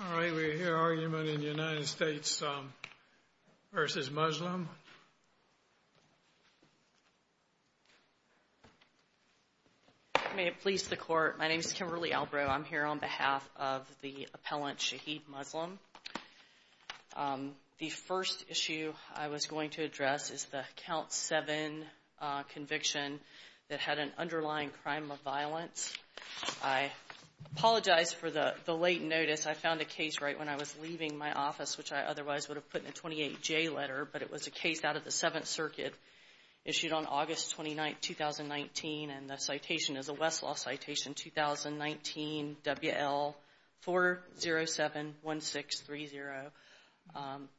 All right, we hear argument in the United States v. Muslim. May it please the Court, my name is Kimberly Albrow. I'm here on behalf of the appellant Shahid Muslim. The first issue I was going to address is the Count 7 conviction that had an underlying crime of violence. I apologize for the late notice. I found a case right when I was leaving my office, which I otherwise would have put in a 28J letter, but it was a case out of the Seventh Circuit issued on August 29, 2019, and the citation is a Westlaw citation, 2019 WL4071630.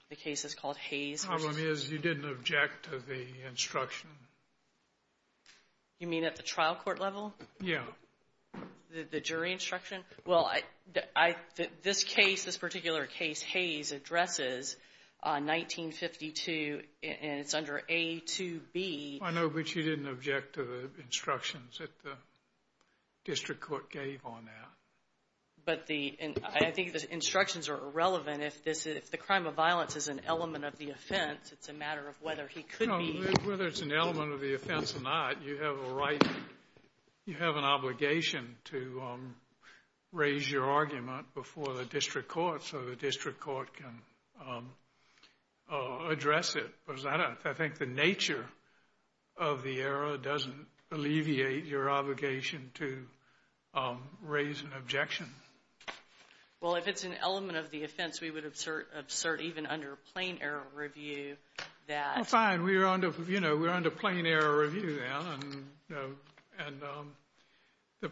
The case is called Hayes. The problem is you didn't object to the instruction. You mean at the trial court level? Yeah. The jury instruction? Well, this case, this particular case, Hayes, addresses 1952, and it's under A to B. I know, but you didn't object to the instructions that the district court gave on that. But I think the instructions are irrelevant. If the crime of violence is an element of the offense, it's a matter of whether he could be. Whether it's an element of the offense or not, you have a right, you have an obligation to raise your argument before the district court so the district court can address it. I think the nature of the error doesn't alleviate your obligation to raise an objection. Well, if it's an element of the offense, we would assert even under plain error review that. Well, fine. We're under plain error review now, and the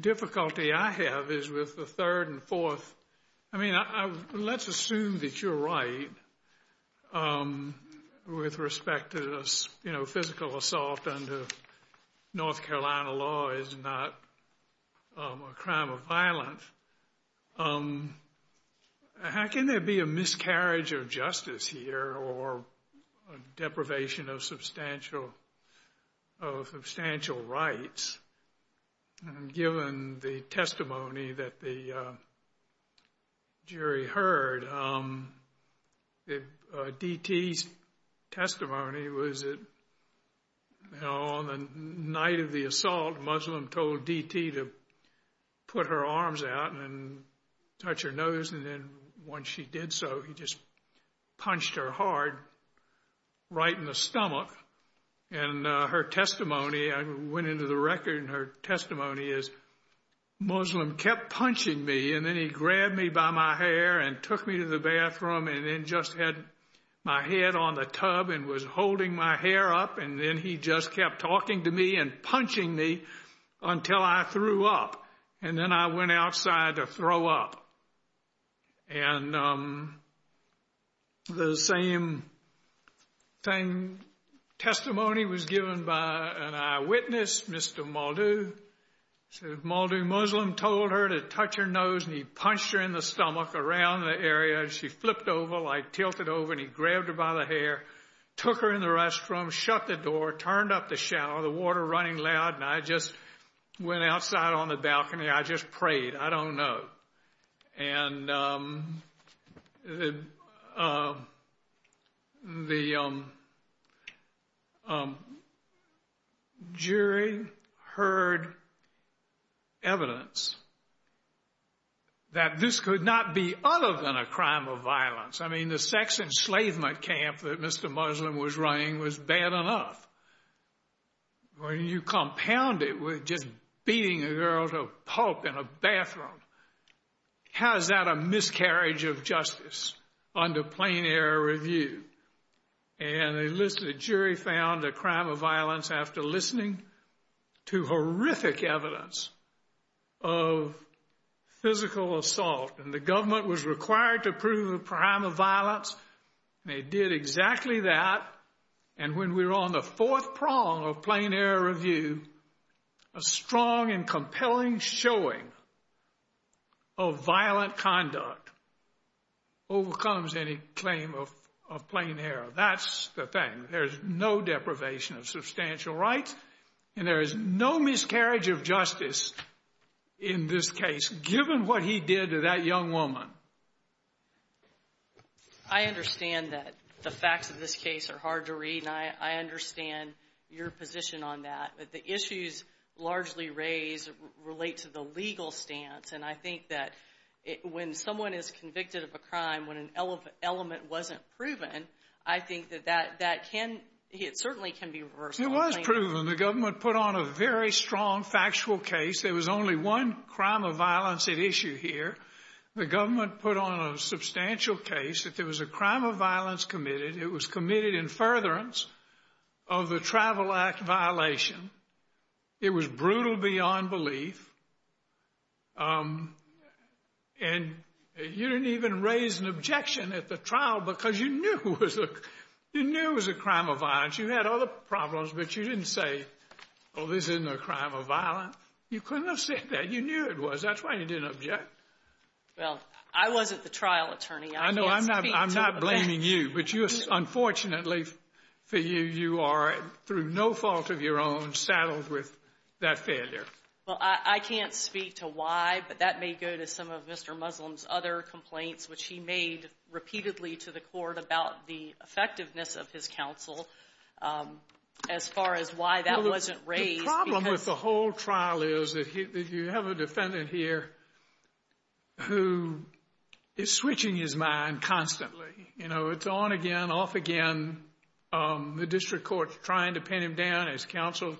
difficulty I have is with the third and fourth. I mean, let's assume that you're right with respect to, you know, physical assault under North Carolina law is not a crime of violence. How can there be a miscarriage of justice here or deprivation of substantial rights? Given the testimony that the jury heard, D.T.'s testimony was that, you know, on the night of the assault, Muslim told D.T. to put her arms out and touch her nose, and then when she did so, he just punched her hard right in the stomach. And her testimony, I went into the record, and her testimony is, Muslim kept punching me, and then he grabbed me by my hair and took me to the bathroom and then just had my head on the tub and was holding my hair up, and then he just kept talking to me and punching me until I threw up. And then I went outside to throw up. And the same testimony was given by an eyewitness, Mr. Muldoo. So Muldoo, Muslim told her to touch her nose, and he punched her in the stomach around the area. She flipped over, like tilted over, and he grabbed her by the hair, took her in the restroom, shut the door, turned up the shower, the water running loud, and I just went outside on the balcony. I just prayed. I don't know. And the jury heard evidence that this could not be other than a crime of violence. I mean, the sex enslavement camp that Mr. Muslim was running was bad enough. When you compound it with just beating a girl to pulp in a bathroom, how is that a miscarriage of justice under plain air review? And the jury found a crime of violence after listening to horrific evidence of physical assault, and the government was required to prove a crime of violence, and they did exactly that. And when we're on the fourth prong of plain air review, a strong and compelling showing of violent conduct overcomes any claim of plain air. That's the thing. There's no deprivation of substantial rights, and there is no miscarriage of justice in this case, given what he did to that young woman. I understand that the facts of this case are hard to read, and I understand your position on that, but the issues largely raised relate to the legal stance, and I think that when someone is convicted of a crime when an element wasn't proven, I think that that can, it certainly can be reversed. It was proven. The government put on a very strong factual case. There was only one crime of violence at issue here. The government put on a substantial case that there was a crime of violence committed. It was committed in furtherance of the Travel Act violation. It was brutal beyond belief, and you didn't even raise an objection at the trial because you knew it was a crime of violence. You had other problems, but you didn't say, oh, this isn't a crime of violence. You couldn't have said that. You knew it was. That's why you didn't object. Well, I wasn't the trial attorney. I know. I'm not blaming you, but you, unfortunately, for you, you are, through no fault of your own, saddled with that failure. Well, I can't speak to why, but that may go to some of Mr. Muslim's other complaints, which he made repeatedly to the court about the effectiveness of his counsel as far as why that wasn't raised. The problem with the whole trial is that you have a defendant here who is switching his mind constantly. You know, it's on again, off again. The district court is trying to pin him down, his counsel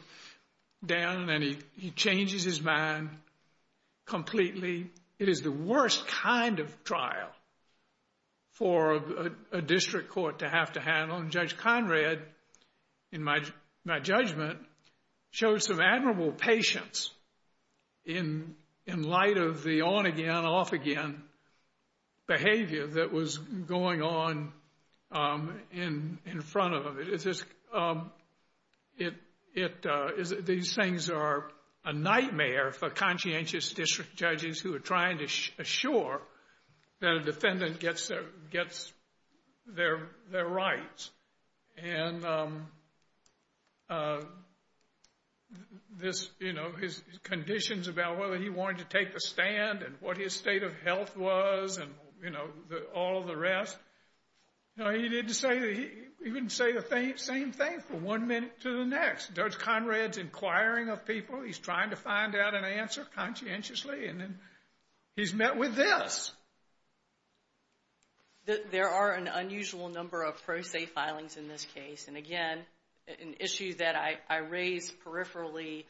down, and he changes his mind completely. It is the worst kind of trial for a district court to have to handle. Judge Conrad, in my judgment, showed some admirable patience in light of the on again, off again behavior that was going on in front of him. These things are a nightmare for conscientious district judges who are trying to assure that a defendant gets their rights. And this, you know, his conditions about whether he wanted to take the stand and what his state of health was and, you know, all the rest. You know, he didn't say the same thing from one minute to the next. Judge Conrad's inquiring of people. He's trying to find out an answer conscientiously, and then he's met with this. There are an unusual number of pro se filings in this case, and again, an issue that I raise peripherally,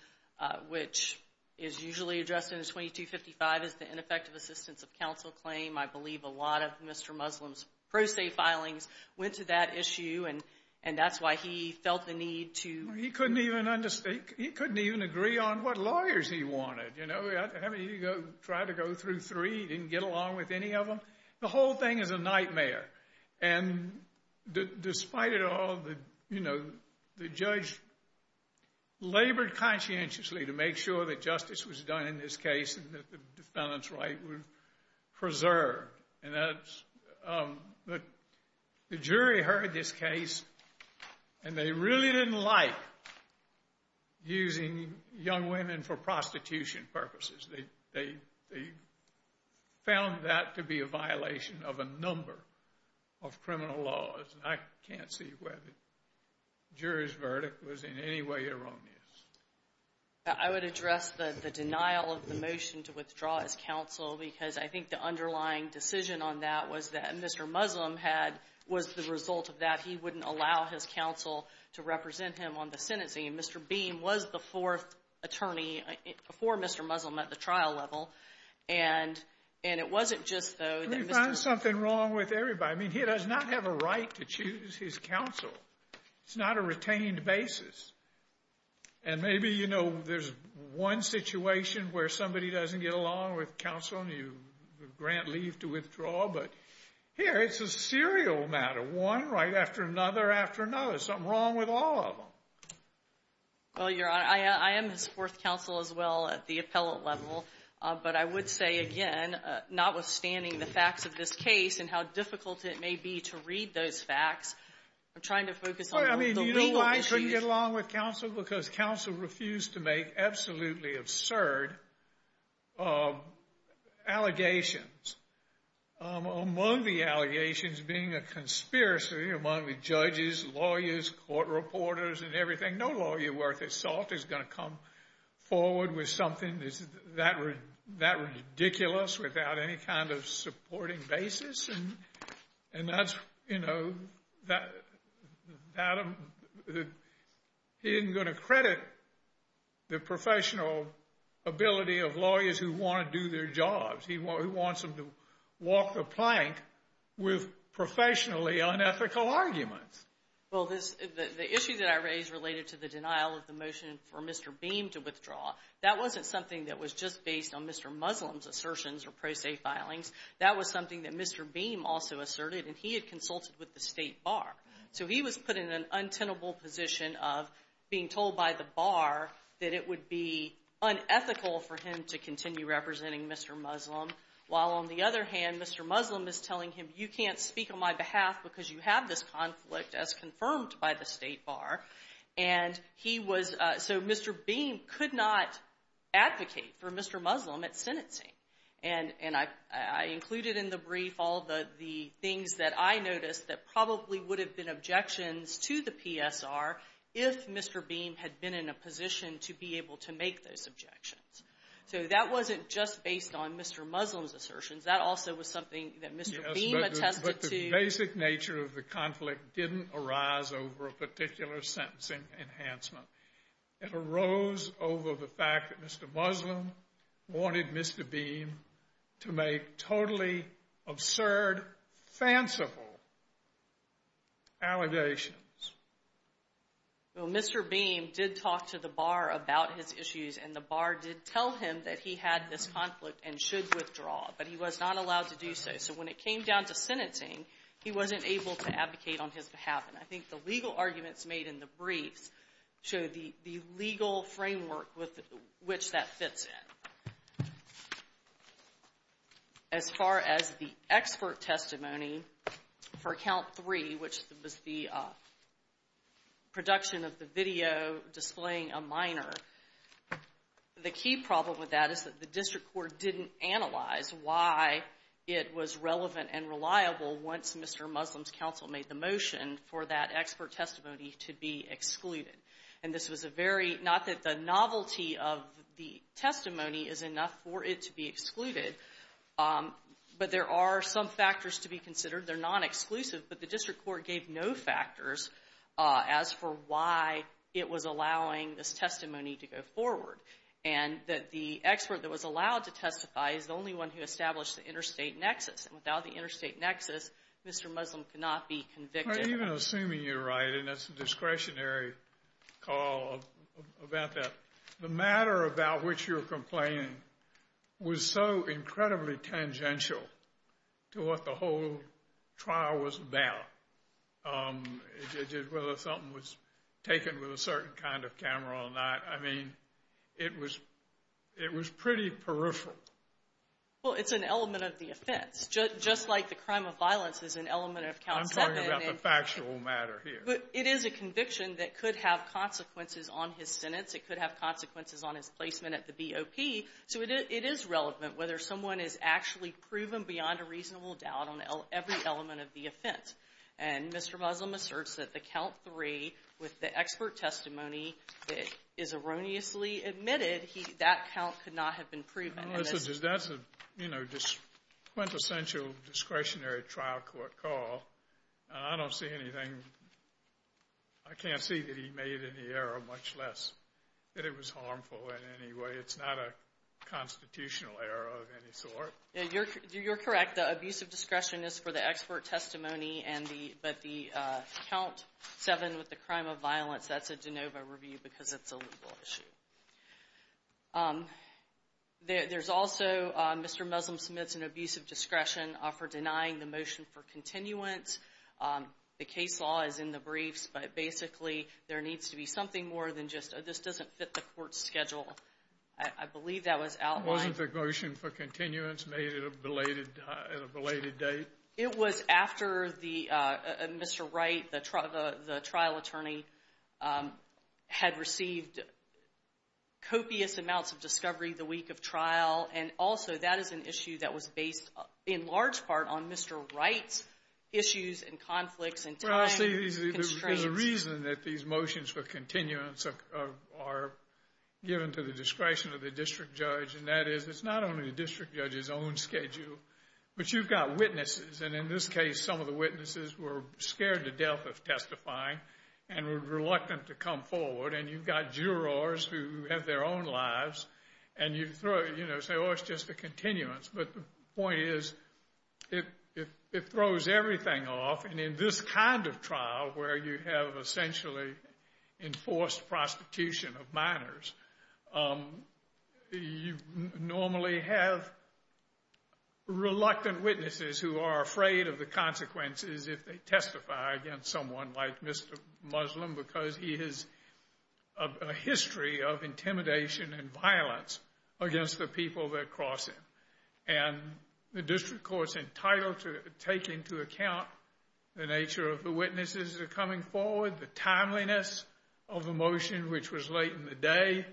which is usually addressed in the 2255, is the ineffective assistance of counsel claim. I believe a lot of Mr. Muslim's pro se filings went to that issue, and that's why he felt the need to. He couldn't even understand. He couldn't even agree on what lawyers he wanted. You know, he tried to go through three. He didn't get along with any of them. The whole thing is a nightmare. And despite it all, you know, the judge labored conscientiously to make sure that justice was done in this case and that the defendant's right was preserved. And the jury heard this case, and they really didn't like using young women for prostitution purposes. They found that to be a violation of a number of criminal laws, and I can't see whether the jury's verdict was in any way erroneous. I would address the denial of the motion to withdraw as counsel because I think the underlying decision on that was that Mr. Muslim had was the result of that he wouldn't allow his counsel to represent him on the sentencing. Mr. Beam was the fourth attorney before Mr. Muslim at the trial level, and it wasn't just, though, that Mr. Muslim Let me find something wrong with everybody. I mean, he does not have a right to choose his counsel. It's not a retained basis. And maybe, you know, there's one situation where somebody doesn't get along with counsel and you grant leave to withdraw, but here it's a serial matter, one right after another after another, something wrong with all of them. Well, Your Honor, I am his fourth counsel as well at the appellate level, but I would say, again, notwithstanding the facts of this case and how difficult it may be to read those facts, I'm trying to focus on the legal issues. I couldn't get along with counsel because counsel refused to make absolutely absurd allegations. Among the allegations being a conspiracy among the judges, lawyers, court reporters, and everything, no lawyer worth his salt is going to come forward with something that ridiculous without any kind of supporting basis. And that's, you know, he isn't going to credit the professional ability of lawyers who want to do their jobs. He wants them to walk the plank with professionally unethical arguments. Well, the issue that I raised related to the denial of the motion for Mr. Beam to withdraw, that wasn't something that was just based on Mr. Muslim's assertions or pro se filings. That was something that Mr. Beam also asserted, and he had consulted with the State Bar. So he was put in an untenable position of being told by the Bar that it would be unethical for him to continue representing Mr. Muslim, while, on the other hand, Mr. Muslim is telling him, you can't speak on my behalf because you have this conflict, as confirmed by the State Bar. And he was so Mr. Beam could not advocate for Mr. Muslim at sentencing. And I included in the brief all the things that I noticed that probably would have been objections to the PSR if Mr. Beam had been in a position to be able to make those objections. So that wasn't just based on Mr. Muslim's assertions. That also was something that Mr. Beam attested to. The basic nature of the conflict didn't arise over a particular sentencing enhancement. It arose over the fact that Mr. Muslim wanted Mr. Beam to make totally absurd, fanciful allegations. Well, Mr. Beam did talk to the Bar about his issues, and the Bar did tell him that he had this conflict and should withdraw, but he was not allowed to do so. So when it came down to sentencing, he wasn't able to advocate on his behalf. And I think the legal arguments made in the briefs show the legal framework with which that fits in. As far as the expert testimony for Count 3, which was the production of the video displaying a minor, the key problem with that is that the district court didn't analyze why it was relevant and reliable once Mr. Muslim's counsel made the motion for that expert testimony to be excluded. And this was a very – not that the novelty of the testimony is enough for it to be excluded, but there are some factors to be considered. They're non-exclusive, but the district court gave no factors as for why it was allowing this testimony to go forward, and that the expert that was allowed to testify is the only one who established the interstate nexus. And without the interstate nexus, Mr. Muslim could not be convicted. Even assuming you're right, and it's a discretionary call about that, the matter about which you're complaining was so incredibly tangential to what the whole trial was about, whether something was taken with a certain kind of camera or not. I mean, it was pretty peripheral. Well, it's an element of the offense, just like the crime of violence is an element of Count 7. You're talking about the factual matter here. It is a conviction that could have consequences on his sentence. It could have consequences on his placement at the BOP. So it is relevant whether someone is actually proven beyond a reasonable doubt on every element of the offense. And Mr. Muslim asserts that the Count 3, with the expert testimony, is erroneously admitted. That count could not have been proven. That's a quintessential discretionary trial court call, and I don't see anything. I can't see that he made any error, much less that it was harmful in any way. It's not a constitutional error of any sort. You're correct. The abuse of discretion is for the expert testimony, but the Count 7 with the crime of violence, that's a de novo review because it's a legal issue. There's also, Mr. Muslim submits an abuse of discretion for denying the motion for continuance. The case law is in the briefs, but basically there needs to be something more than just, oh, this doesn't fit the court's schedule. I believe that was outlined. Wasn't the motion for continuance made at a belated date? It was after Mr. Wright, the trial attorney, had received copious amounts of discovery the week of trial, and also that is an issue that was based in large part on Mr. Wright's issues and conflicts and time constraints. Well, I see the reason that these motions for continuance are given to the discretion of the district judge, and that is it's not only the district judge's own schedule, but you've got witnesses, and in this case some of the witnesses were scared to death of testifying and were reluctant to come forward, and you've got jurors who have their own lives, and you say, oh, it's just a continuance. But the point is it throws everything off, and in this kind of trial where you have essentially enforced prostitution of minors, you normally have reluctant witnesses who are afraid of the consequences if they testify against someone like Mr. Muslim because he has a history of intimidation and violence against the people that cross him. And the district court's entitled to take into account the nature of the witnesses that are coming forward, the timeliness of the motion, which was late in the day,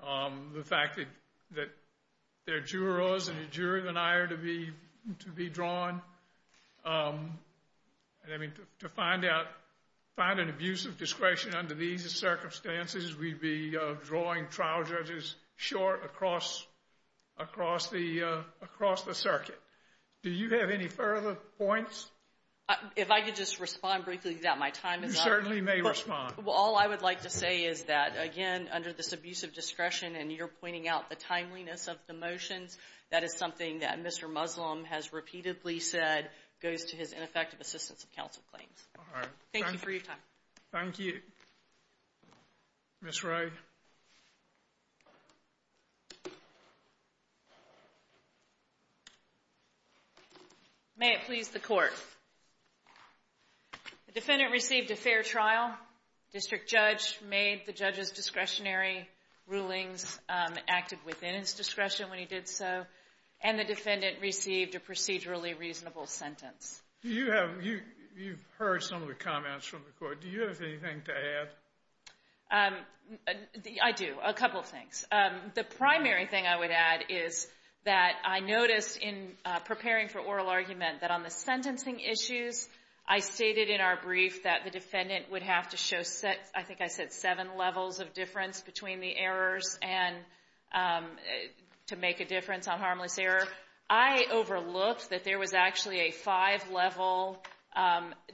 the fact that there are jurors and a jury denier to be drawn. To find an abuse of discretion under these circumstances, we'd be drawing trial judges short across the circuit. Do you have any further points? If I could just respond briefly to that, my time is up. You certainly may respond. Well, all I would like to say is that, again, under this abuse of discretion, and you're pointing out the timeliness of the motions, that is something that Mr. Muslim has repeatedly said goes to his ineffective assistance of counsel claims. All right. Thank you for your time. Thank you. Ms. Rowe. Thank you. May it please the Court. The defendant received a fair trial. District judge made the judge's discretionary rulings, acted within his discretion when he did so, and the defendant received a procedurally reasonable sentence. You've heard some of the comments from the Court. Do you have anything to add? I do, a couple of things. The primary thing I would add is that I noticed in preparing for oral argument that on the sentencing issues, I stated in our brief that the defendant would have to show, I think I said, seven levels of difference between the errors to make a difference on harmless error. I overlooked that there was actually a five-level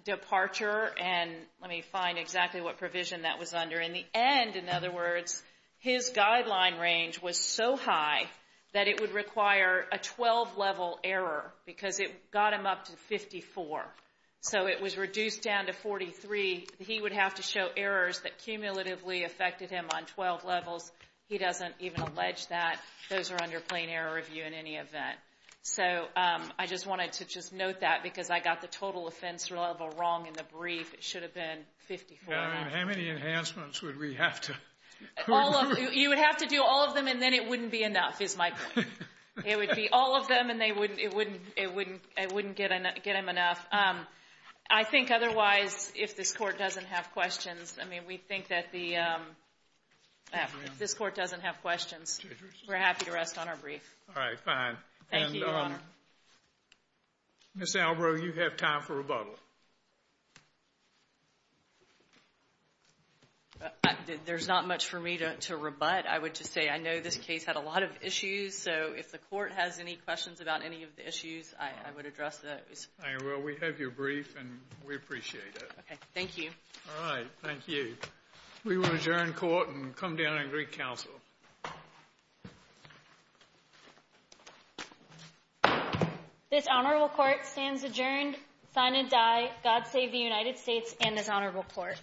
departure, and let me find exactly what provision that was under. In the end, in other words, his guideline range was so high that it would require a 12-level error because it got him up to 54. So it was reduced down to 43. He would have to show errors that cumulatively affected him on 12 levels. He doesn't even allege that. Those are under plain error review in any event. So I just wanted to just note that because I got the total offense level wrong in the brief. It should have been 54. How many enhancements would we have to? You would have to do all of them, and then it wouldn't be enough, is my point. It would be all of them, and it wouldn't get him enough. I think otherwise, if this Court doesn't have questions, I mean, we think that the – We're happy to rest on our brief. All right, fine. Thank you, Your Honor. Ms. Albro, you have time for rebuttal. There's not much for me to rebut. I would just say I know this case had a lot of issues, so if the Court has any questions about any of the issues, I would address those. All right, well, we have your brief, and we appreciate it. Thank you. All right. Thank you. We will adjourn court and come down and agree counsel. This honorable court stands adjourned, sign and die. God save the United States and this honorable court.